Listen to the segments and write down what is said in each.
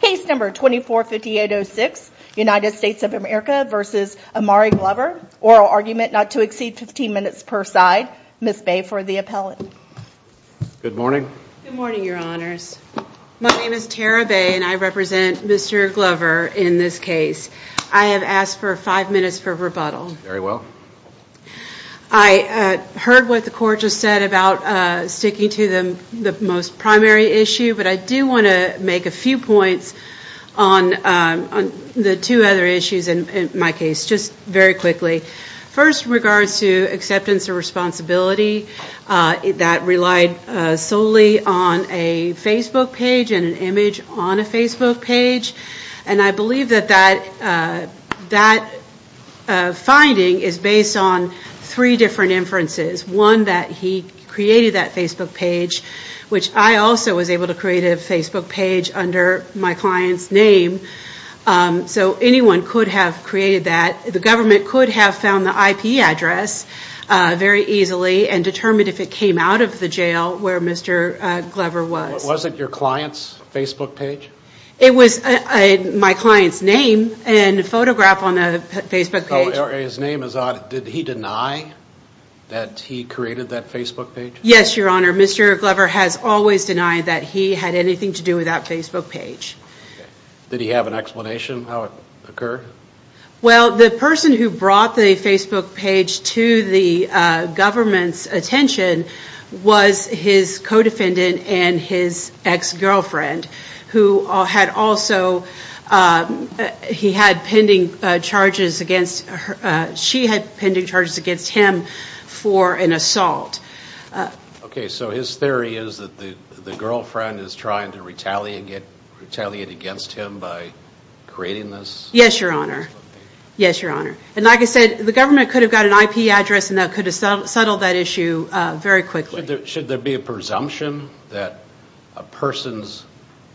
Case number 245806, United States of America v. Imari Glover, oral argument not to exceed 15 minutes per side, Ms. Bay for the appellate. Good morning. Good morning, your honors. My name is Tara Bay and I represent Mr. Glover in this case. I have asked for five minutes for rebuttal. Very well. I heard what the court just said about sticking to the most primary issue, but I do want to make a few points on the two other issues in my case, just very quickly. First, in regards to acceptance and responsibility, that relied solely on a Facebook page and an image on a Facebook page. And I believe that that finding is based on three different inferences. One, that he created that Facebook page, which I also was able to create a Facebook page under my client's name. So anyone could have created that. The government could have found the IP address very easily and determined if it came out of the jail where Mr. Glover was. Was it your client's Facebook page? It was my client's name and a photograph on a Facebook page. His name is on it. Did he deny that he created that Facebook page? Yes, your honor. Mr. Glover has always denied that he had anything to do with that Facebook page. Did he have an explanation how it occurred? Well, the person who brought the Facebook page to the government's attention was his co-defendant and his ex-girlfriend. He had pending charges against her. She had pending charges against him for an assault. Okay, so his theory is that the girlfriend is trying to retaliate against him by creating this Facebook page? Yes, your honor. Yes, your honor. And like I said, the government could have got an IP address and that could have settled that issue very quickly. Should there be a presumption that a person's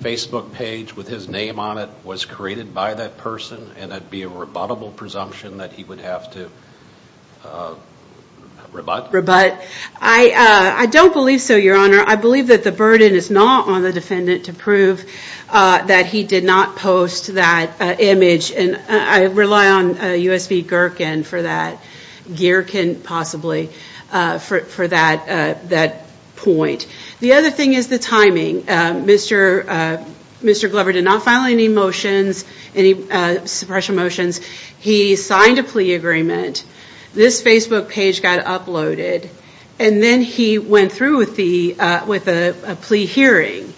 Facebook page with his name on it was created by that person? And that would be a rebuttable presumption that he would have to rebut? I don't believe so, your honor. I believe that the burden is not on the defendant to prove that he did not post that image. And I rely on U.S.B. Gherkin for that. Gherkin, possibly, for that point. The other thing is the timing. Mr. Glover did not file any motions, any suppression motions. He signed a plea agreement, this Facebook page got uploaded, and then he went through with a plea hearing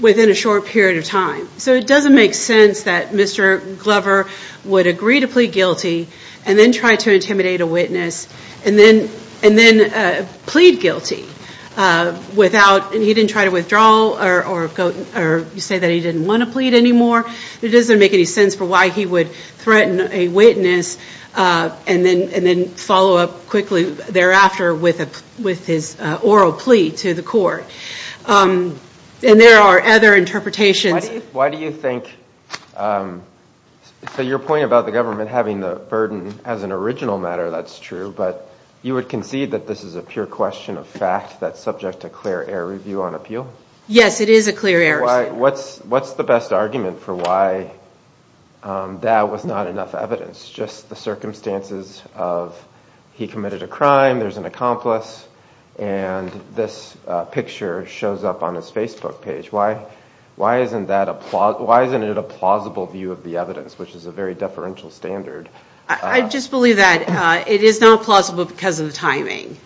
within a short period of time. So it doesn't make sense that Mr. Glover would agree to plead guilty and then try to intimidate a witness and then plead guilty. He didn't try to withdraw or say that he didn't want to plead anymore. It doesn't make any sense for why he would threaten a witness and then follow up quickly thereafter with his oral plea to the court. And there are other interpretations. Why do you think, so your point about the government having the burden as an original matter, that's true, but you would concede that this is a pure question of fact that's subject to clear air review on appeal? Yes, it is a clear air review. What's the best argument for why that was not enough evidence? Just the circumstances of he committed a crime, there's an accomplice, and this picture shows up on his Facebook page. Why isn't it a plausible view of the evidence, which is a very deferential standard? I just believe that it is not plausible because of the timing.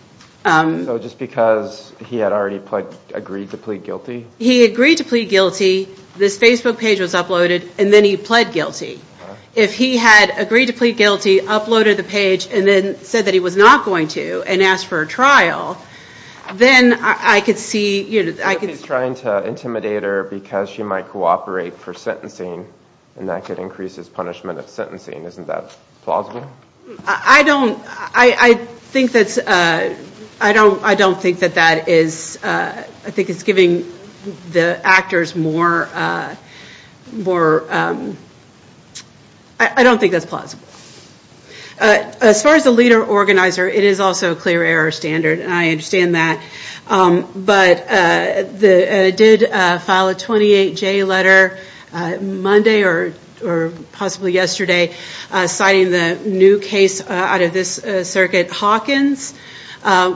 So just because he had already agreed to plead guilty? He agreed to plead guilty. This Facebook page was uploaded, and then he pled guilty. If he had agreed to plead guilty, uploaded the page, and then said that he was not going to and asked for a trial, then I could see— He's trying to intimidate her because she might cooperate for sentencing, and that could increase his punishment of sentencing. Isn't that plausible? I don't think that that is—I think it's giving the actors more—I don't think that's plausible. As far as the leader organizer, it is also a clear error standard, and I understand that. But they did file a 28-J letter Monday or possibly yesterday citing the new case out of this circuit, Hawkins,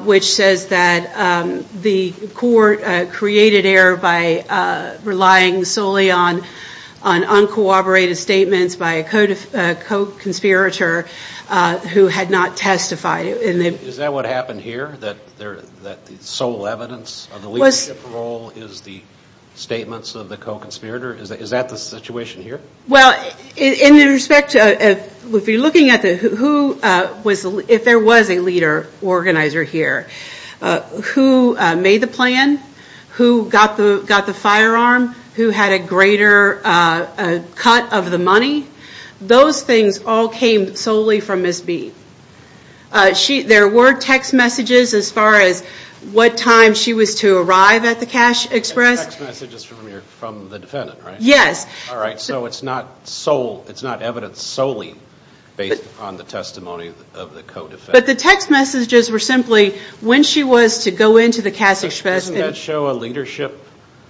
which says that the court created error by relying solely on uncooperative statements by a co-conspirator who had not testified. Is that what happened here? That the sole evidence of the leadership role is the statements of the co-conspirator? Is that the situation here? Well, in respect to—if you're looking at who was—if there was a leader organizer here, who made the plan, who got the firearm, who had a greater cut of the money, those things all came solely from Ms. B. There were text messages as far as what time she was to arrive at the cash express. Text messages from the defendant, right? Yes. All right, so it's not evidence solely based on the testimony of the co-defendant. But the text messages were simply when she was to go into the cash express— Doesn't that show a leadership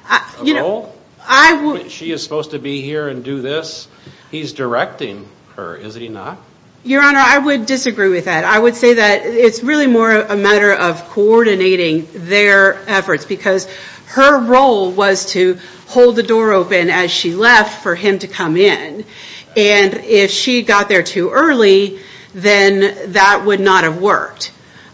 role? You know, I would— She is supposed to be here and do this? He's directing her, is he not? Your Honor, I would disagree with that. I would say that it's really more a matter of coordinating their efforts because her role was to hold the door open as she left for him to come in. And if she got there too early, then that would not have worked.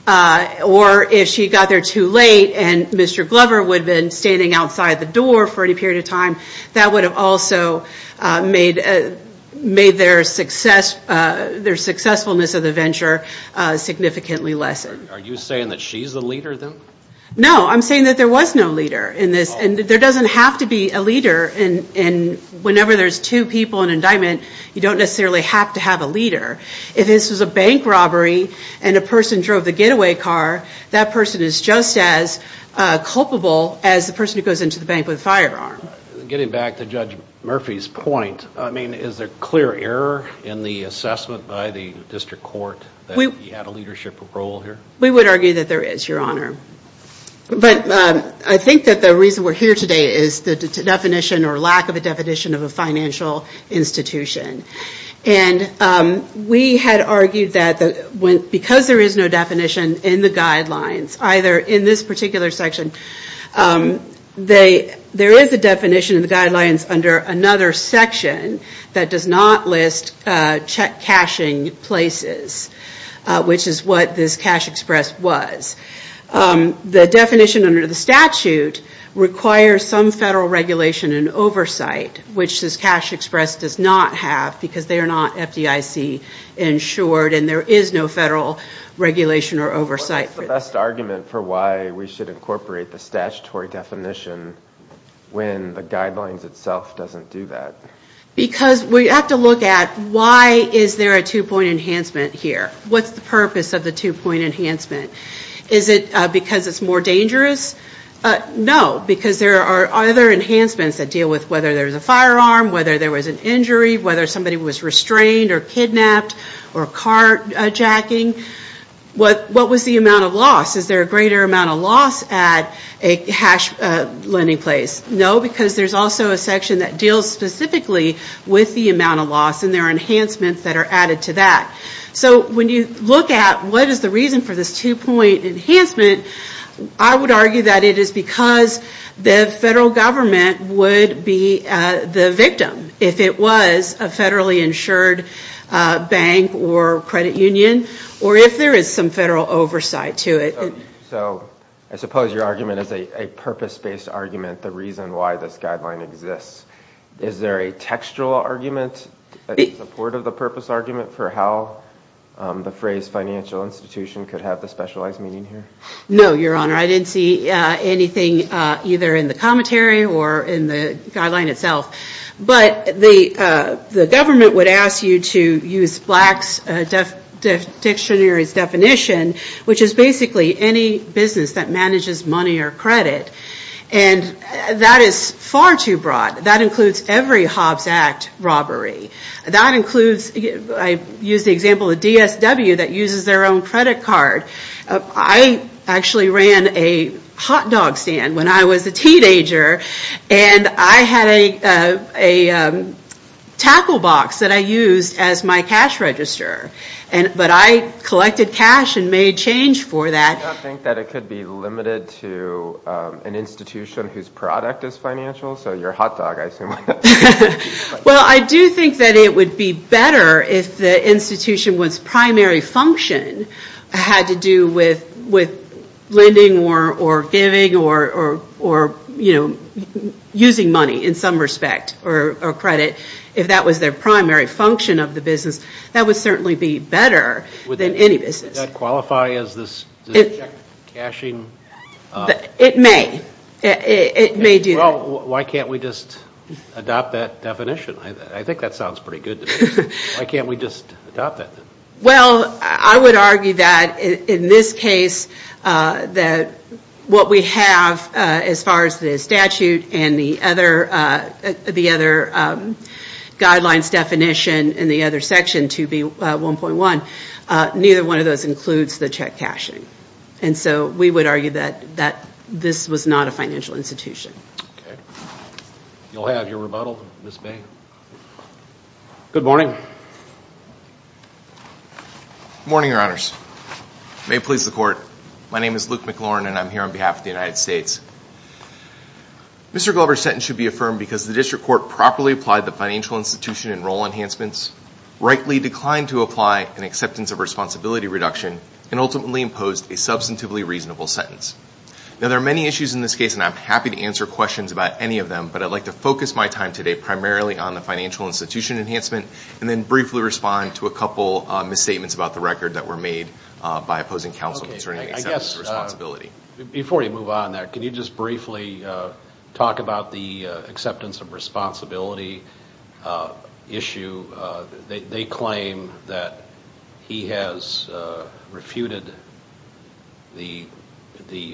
Or if she got there too late and Mr. Glover would have been standing outside the door for any period of time, that would have also made their successfulness of the venture significantly less. Are you saying that she's the leader, then? No, I'm saying that there was no leader in this. And there doesn't have to be a leader. And whenever there's two people in indictment, you don't necessarily have to have a leader. If this was a bank robbery and a person drove the getaway car, that person is just as culpable as the person who goes into the bank with a firearm. Getting back to Judge Murphy's point, I mean, is there clear error in the assessment by the district court that he had a leadership role here? We would argue that there is, Your Honor. But I think that the reason we're here today is the definition or lack of a definition of a financial institution. And we had argued that because there is no definition in the guidelines, either in this particular section, there is a definition in the guidelines under another section that does not list check cashing places, which is what this cash express was. The definition under the statute requires some federal regulation and oversight, which this cash express does not have because they are not FDIC insured and there is no federal regulation or oversight. What is the best argument for why we should incorporate the statutory definition when the guidelines itself doesn't do that? Because we have to look at why is there a two-point enhancement here? What's the purpose of the two-point enhancement? Is it because it's more dangerous? No, because there are other enhancements that deal with whether there's a firearm, whether there was an injury, whether somebody was restrained or kidnapped or carjacking. What was the amount of loss? Is there a greater amount of loss at a cash lending place? No, because there's also a section that deals specifically with the amount of loss and there are enhancements that are added to that. So when you look at what is the reason for this two-point enhancement, I would argue that it is because the federal government would be the victim if it was a federally insured bank or credit union or if there is some federal oversight to it. So I suppose your argument is a purpose-based argument, the reason why this guideline exists. Is there a textual argument in support of the purpose argument for how the phrase financial institution could have the specialized meaning here? No, Your Honor. I didn't see anything either in the commentary or in the guideline itself. But the government would ask you to use Black's Dictionary's definition, which is basically any business that manages money or credit. And that is far too broad. That includes every Hobbs Act robbery. That includes, I use the example of DSW that uses their own credit card. I actually ran a hot dog stand when I was a teenager and I had a tackle box that I used as my cash register. But I collected cash and made change for that. Do you not think that it could be limited to an institution whose product is financial? So your hot dog, I assume. Well, I do think that it would be better if the institution's primary function had to do with lending or giving or using money in some respect or credit. If that was their primary function of the business, that would certainly be better than any business. Would that qualify as cashing? It may. It may do that. Well, why can't we just adopt that definition? I think that sounds pretty good to me. Why can't we just adopt that? Well, I would argue that in this case, that what we have as far as the statute and the other guidelines definition and the other section, 2B1.1, neither one of those includes the check cashing. And so we would argue that this was not a financial institution. Okay. You'll have your rebuttal, Ms. Bay. Good morning. Good morning, Your Honors. May it please the Court. My name is Luke McLaurin, and I'm here on behalf of the United States. Mr. Glover's sentence should be affirmed because the district court properly applied the financial institution and role enhancements, rightly declined to apply an acceptance of responsibility reduction, and ultimately imposed a substantively reasonable sentence. Now, there are many issues in this case, and I'm happy to answer questions about any of them, but I'd like to focus my time today primarily on the financial institution enhancement and then briefly respond to a couple misstatements about the record that were made by opposing counsel concerning acceptance of responsibility. Before you move on there, can you just briefly talk about the acceptance of responsibility issue? They claim that he has refuted the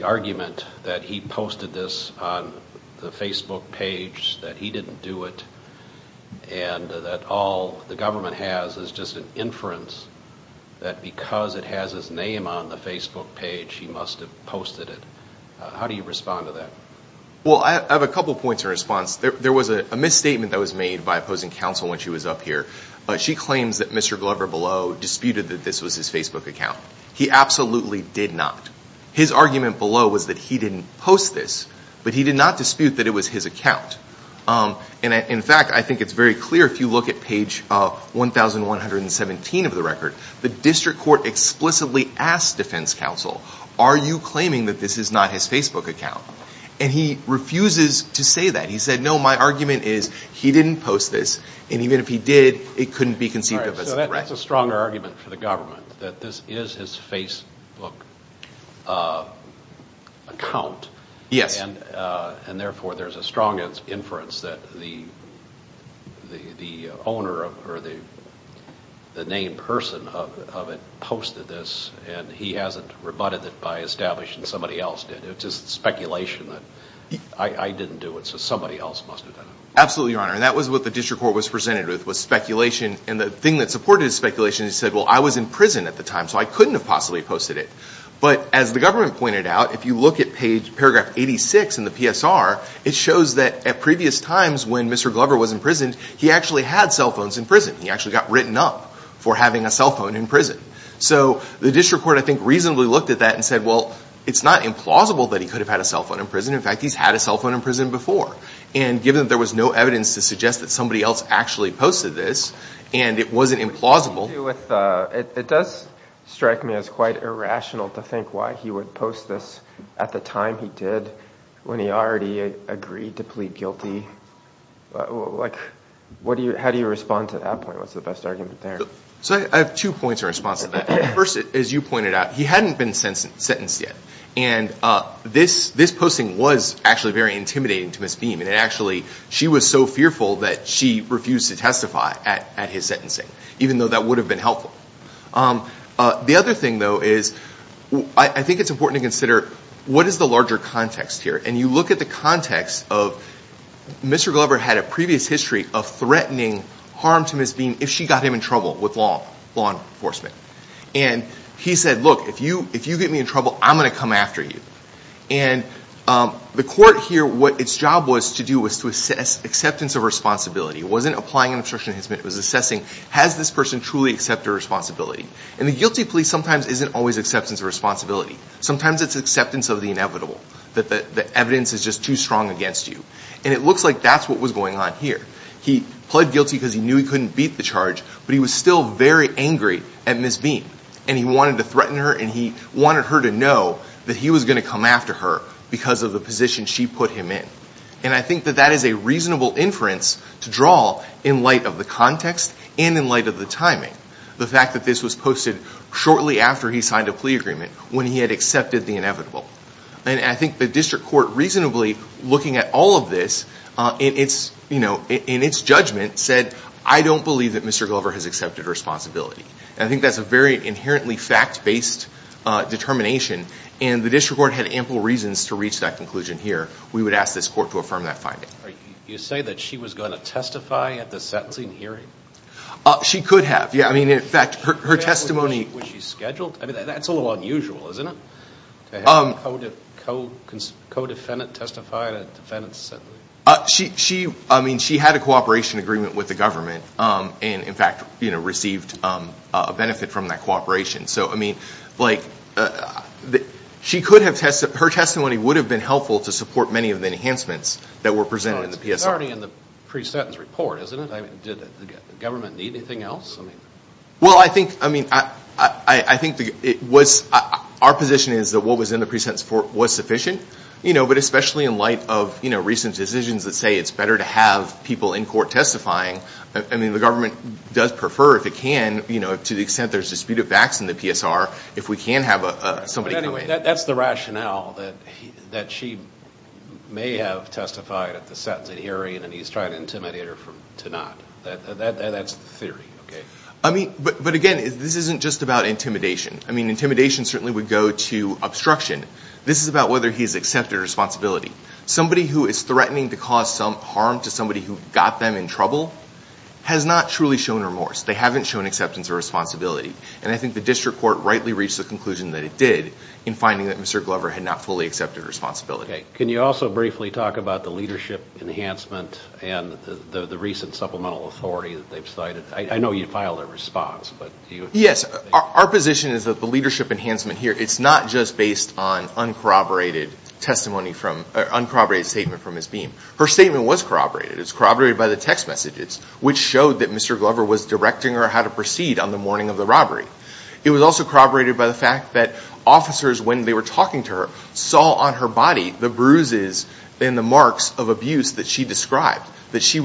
argument that he posted this on the Facebook page, that he didn't do it, and that all the government has is just an inference that because it has his name on the Facebook page, he must have posted it. How do you respond to that? Well, I have a couple points of response. There was a misstatement that was made by opposing counsel when she was up here. She claims that Mr. Glover below disputed that this was his Facebook account. He absolutely did not. His argument below was that he didn't post this, but he did not dispute that it was his account. In fact, I think it's very clear if you look at page 1117 of the record. The district court explicitly asked defense counsel, are you claiming that this is not his Facebook account? And he refuses to say that. He said, no, my argument is he didn't post this, and even if he did, it couldn't be conceived of as a threat. So that's a stronger argument for the government, that this is his Facebook account, and therefore there's a strong inference that the owner or the named person of it posted this, and he hasn't rebutted it by establishing somebody else did. It's just speculation that I didn't do it, so somebody else must have done it. Absolutely, Your Honor, and that was what the district court was presented with, was speculation, and the thing that supported his speculation, he said, well, I was in prison at the time, so I couldn't have possibly posted it. But as the government pointed out, if you look at paragraph 86 in the PSR, it shows that at previous times when Mr. Glover was in prison, he actually had cell phones in prison. He actually got written up for having a cell phone in prison. So the district court, I think, reasonably looked at that and said, well, it's not implausible that he could have had a cell phone in prison. In fact, he's had a cell phone in prison before, and given that there was no evidence to suggest that somebody else actually posted this, and it wasn't implausible. It does strike me as quite irrational to think why he would post this at the time he did, when he already agreed to plead guilty. How do you respond to that point? What's the best argument there? I have two points in response to that. First, as you pointed out, he hadn't been sentenced yet, and this posting was actually very intimidating to Ms. Beam, and actually she was so fearful that she refused to testify at his sentencing, even though that would have been helpful. The other thing, though, is I think it's important to consider what is the larger context here, and you look at the context of Mr. Glover had a previous history of threatening harm to Ms. Beam if she got him in trouble with law enforcement. And he said, look, if you get me in trouble, I'm going to come after you. And the court here, what its job was to do was to assess acceptance of responsibility. It wasn't applying an obstruction of hisment. It was assessing, has this person truly accepted responsibility? And the guilty plea sometimes isn't always acceptance of responsibility. Sometimes it's acceptance of the inevitable, that the evidence is just too strong against you. And it looks like that's what was going on here. He pled guilty because he knew he couldn't beat the charge, but he was still very angry at Ms. Beam, and he wanted to threaten her and he wanted her to know that he was going to come after her because of the position she put him in. And I think that that is a reasonable inference to draw in light of the context and in light of the timing, the fact that this was posted shortly after he signed a plea agreement, when he had accepted the inevitable. And I think the district court reasonably, looking at all of this, in its judgment, said, I don't believe that Mr. Glover has accepted responsibility. And I think that's a very inherently fact-based determination, and the district court had ample reasons to reach that conclusion here. We would ask this court to affirm that finding. You say that she was going to testify at the sentencing hearing? She could have, yeah. I mean, in fact, her testimony... Was she scheduled? I mean, that's a little unusual, isn't it? To have a co-defendant testify at a defendant's sentencing? She had a cooperation agreement with the government and, in fact, received a benefit from that cooperation. So, I mean, her testimony would have been helpful to support many of the enhancements that were presented in the PSR. It's already in the pre-sentence report, isn't it? Did the government need anything else? Well, I think our position is that what was in the pre-sentence report was sufficient, but especially in light of recent decisions that say it's better to have people in court testifying. I mean, the government does prefer, if it can, to the extent there's disputed facts in the PSR, if we can have somebody come in. But anyway, that's the rationale that she may have testified at the sentencing hearing and he's trying to intimidate her to not. That's the theory, okay? I mean, but again, this isn't just about intimidation. I mean, intimidation certainly would go to obstruction. This is about whether he's accepted responsibility. Somebody who is threatening to cause some harm to somebody who got them in trouble has not truly shown remorse. They haven't shown acceptance or responsibility. And I think the district court rightly reached the conclusion that it did in finding that Mr. Glover had not fully accepted responsibility. Can you also briefly talk about the leadership enhancement and the recent supplemental authority that they've cited? I know you filed a response. Yes. Our position is that the leadership enhancement here, it's not just based on uncorroborated statement from Ms. Beam. Her statement was corroborated. It was corroborated by the text messages, which showed that Mr. Glover was directing her how to proceed on the morning of the robbery. It was also corroborated by the fact that officers, when they were talking to her, saw on her body the bruises and the marks of abuse that she described. She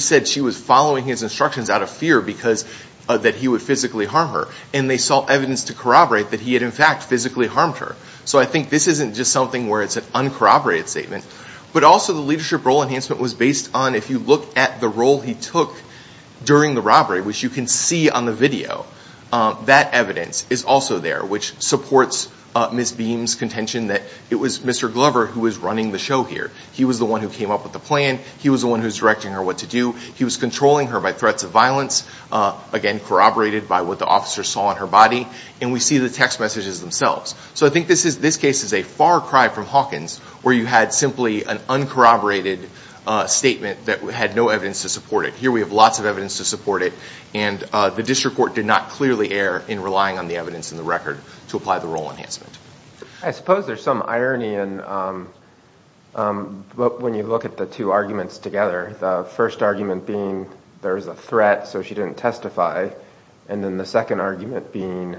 said she was following his instructions out of fear that he would physically harm her. And they saw evidence to corroborate that he had, in fact, physically harmed her. So I think this isn't just something where it's an uncorroborated statement. But also the leadership role enhancement was based on, if you look at the role he took during the robbery, which you can see on the video, that evidence is also there, which supports Ms. Beam's contention that it was Mr. Glover who was running the show here. He was the one who came up with the plan. He was the one who was directing her what to do. He was controlling her by threats of violence, again, corroborated by what the officers saw on her body. And we see the text messages themselves. So I think this case is a far cry from Hawkins, where you had simply an uncorroborated statement that had no evidence to support it. Here we have lots of evidence to support it. And the district court did not clearly err in relying on the evidence in the record to apply the role enhancement. I suppose there's some irony in when you look at the two arguments together, the first argument being there's a threat, so she didn't testify, and then the second argument being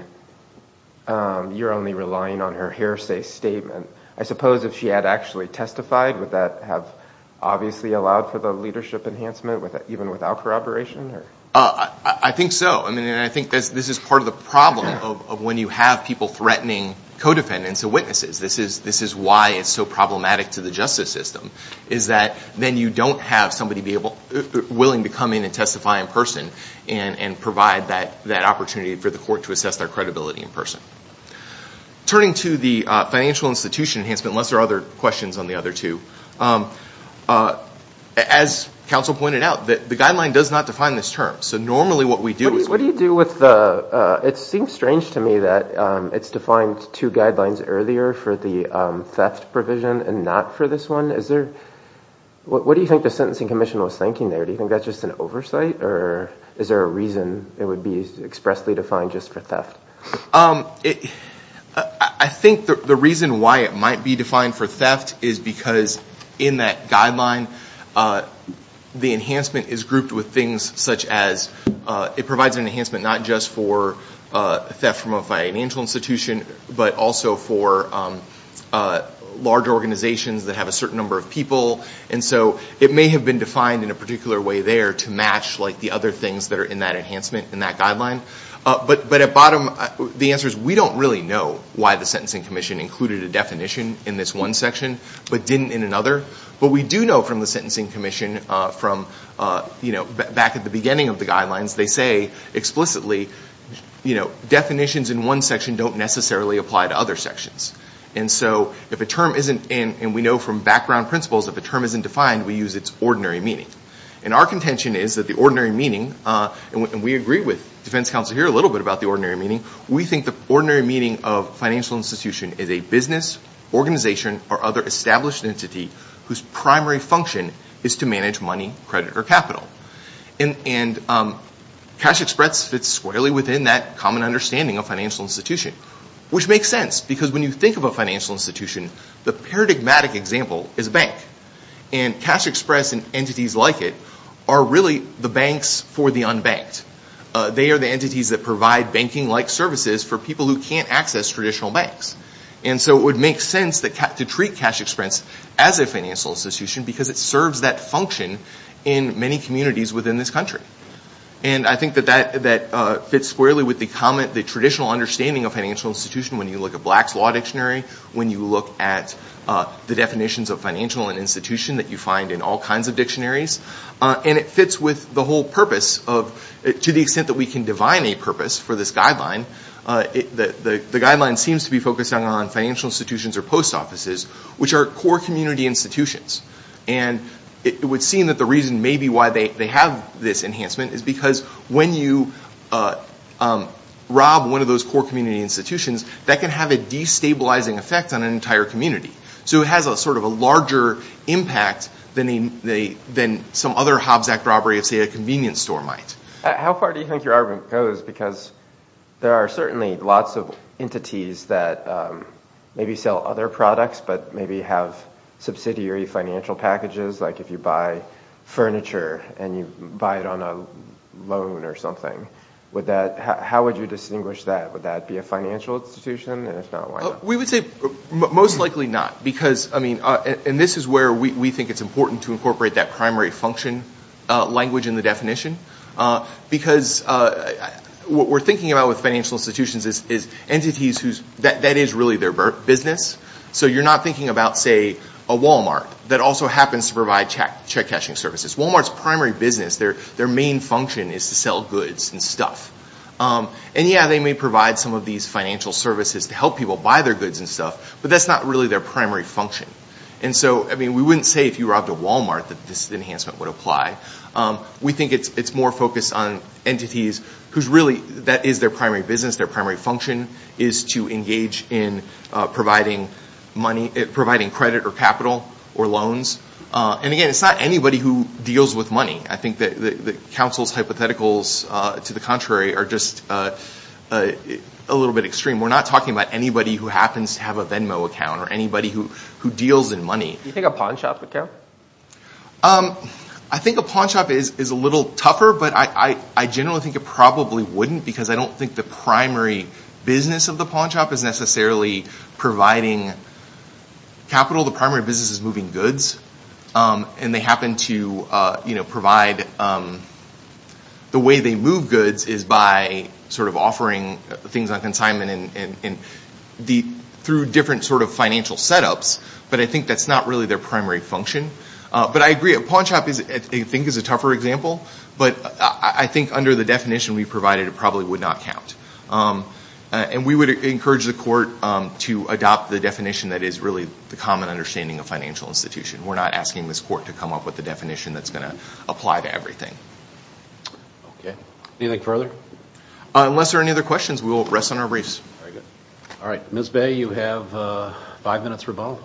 you're only relying on her hearsay statement. I suppose if she had actually testified, would that have obviously allowed for the leadership enhancement even without corroboration? I think so, and I think this is part of the problem of when you have people threatening co-defendants and witnesses. This is why it's so problematic to the justice system, is that then you don't have somebody willing to come in and testify in person and provide that opportunity for the court to assess their credibility in person. Turning to the financial institution enhancement, unless there are other questions on the other two, as counsel pointed out, the guideline does not define this term. So normally what we do is we- What do you do with the- it seems strange to me that it's defined two guidelines earlier for the theft provision and not for this one. What do you think the Sentencing Commission was thinking there? Do you think that's just an oversight, or is there a reason it would be expressly defined just for theft? I think the reason why it might be defined for theft is because in that guideline, the enhancement is grouped with things such as it provides an enhancement not just for theft from a financial institution, but also for large organizations that have a certain number of people. And so it may have been defined in a particular way there to match the other things that are in that enhancement in that guideline. But at bottom, the answer is we don't really know why the Sentencing Commission included a definition in this one section but didn't in another. But we do know from the Sentencing Commission from back at the beginning of the guidelines, they say explicitly definitions in one section don't necessarily apply to other sections. And so if a term isn't- and we know from background principles if a term isn't defined, we use its ordinary meaning. And our contention is that the ordinary meaning- and we agree with defense counsel here a little bit about the ordinary meaning- we think the ordinary meaning of financial institution is a business, organization, or other established entity whose primary function is to manage money, credit, or capital. And Cash Express fits squarely within that common understanding of financial institution, which makes sense. Because when you think of a financial institution, the paradigmatic example is a bank. And Cash Express and entities like it are really the banks for the unbanked. They are the entities that provide banking-like services for people who can't access traditional banks. And so it would make sense to treat Cash Express as a financial institution because it serves that function in many communities within this country. And I think that that fits squarely with the traditional understanding of financial institution when you look at Black's Law Dictionary, when you look at the definitions of financial institution that you find in all kinds of dictionaries. And it fits with the whole purpose of- to the extent that we can divine a purpose for this guideline. The guideline seems to be focused on financial institutions or post offices, which are core community institutions. And it would seem that the reason maybe why they have this enhancement is because when you rob one of those core community institutions, that can have a destabilizing effect on an entire community. So it has a sort of a larger impact than some other Hobbs Act robbery of, say, a convenience store might. How far do you think your argument goes? Because there are certainly lots of entities that maybe sell other products but maybe have subsidiary financial packages. Like if you buy furniture and you buy it on a loan or something, would that- how would you distinguish that? Would that be a financial institution? And if not, why not? We would say most likely not. Because, I mean, and this is where we think it's important to incorporate that primary function language in the definition. Because what we're thinking about with financial institutions is entities whose- that is really their business. So you're not thinking about, say, a Walmart that also happens to provide check cashing services. Walmart's primary business, their main function is to sell goods and stuff. And, yeah, they may provide some of these financial services to help people buy their goods and stuff, but that's not really their primary function. And so, I mean, we wouldn't say if you robbed a Walmart that this enhancement would apply. We think it's more focused on entities whose really- that is their primary business. Their primary function is to engage in providing money- providing credit or capital or loans. And, again, it's not anybody who deals with money. I think that counsel's hypotheticals, to the contrary, are just a little bit extreme. We're not talking about anybody who happens to have a Venmo account or anybody who deals in money. Do you think a pawn shop would care? I think a pawn shop is a little tougher, but I generally think it probably wouldn't, because I don't think the primary business of the pawn shop is necessarily providing capital. The primary business is moving goods, and they happen to provide- the way they move goods is by sort of offering things on consignment through different sort of financial setups, but I think that's not really their primary function. But I agree, a pawn shop, I think, is a tougher example, but I think under the definition we provided it probably would not count. And we would encourage the court to adopt the definition that is really the common understanding of financial institution. We're not asking this court to come up with a definition that's going to apply to everything. Okay. Anything further? Unless there are any other questions, we will rest on our briefs. All right. Ms. Bay, you have five minutes for Bob.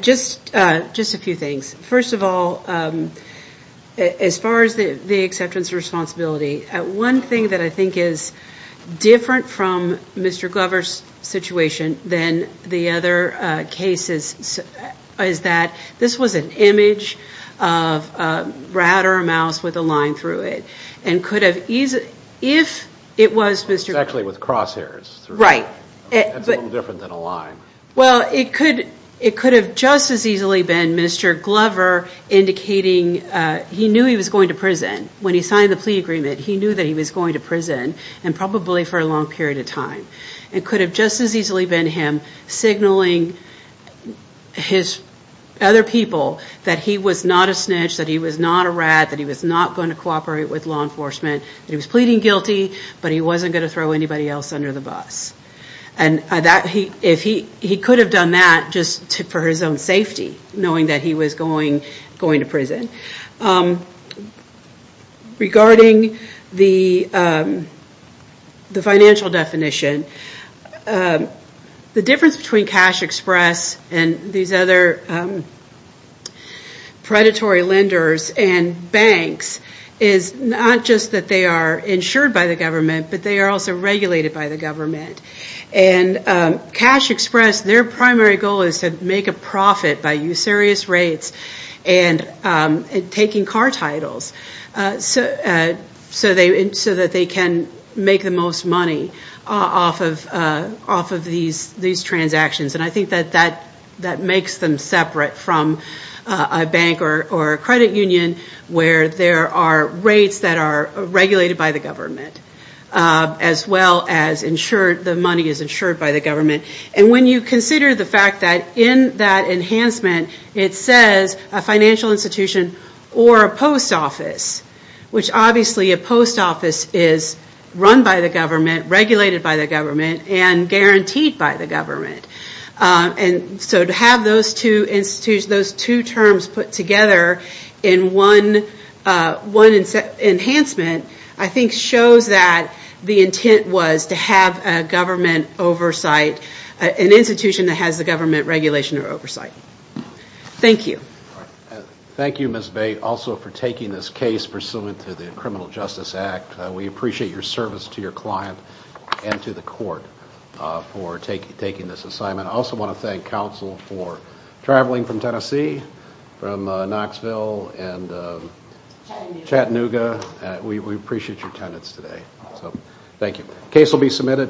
Just a few things. First of all, as far as the acceptance of responsibility, one thing that I think is different from Mr. Glover's situation than the other cases is that this was an image of a rat or a mouse with a line through it, and could have easily- if it was Mr. Glover- It's actually with crosshairs. Right. That's a little different than a line. Well, it could have just as easily been Mr. Glover indicating he knew he was going to prison. When he signed the plea agreement, he knew that he was going to prison, and probably for a long period of time. It could have just as easily been him signaling his other people that he was not a snitch, that he was not a rat, that he was not going to cooperate with law enforcement, that he was pleading guilty, but he wasn't going to throw anybody else under the bus. And he could have done that just for his own safety, knowing that he was going to prison. Regarding the financial definition, the difference between Cash Express and these other predatory lenders and banks is not just that they are insured by the government, but they are also regulated by the government. And Cash Express, their primary goal is to make a profit by usurious rates and taking car titles, so that they can make the most money off of these transactions. And I think that that makes them separate from a bank or a credit union where there are rates that are regulated by the government, as well as the money is insured by the government. And when you consider the fact that in that enhancement, it says a financial institution or a post office, which obviously a post office is run by the government, regulated by the government, and guaranteed by the government. And so to have those two terms put together in one enhancement, I think shows that the intent was to have a government oversight, an institution that has a government regulation or oversight. Thank you. Thank you, Ms. Bate, also for taking this case pursuant to the Criminal Justice Act. We appreciate your service to your client and to the court for taking this assignment. I also want to thank counsel for traveling from Tennessee, from Knoxville, and Chattanooga. We appreciate your attendance today. Thank you. Case will be submitted.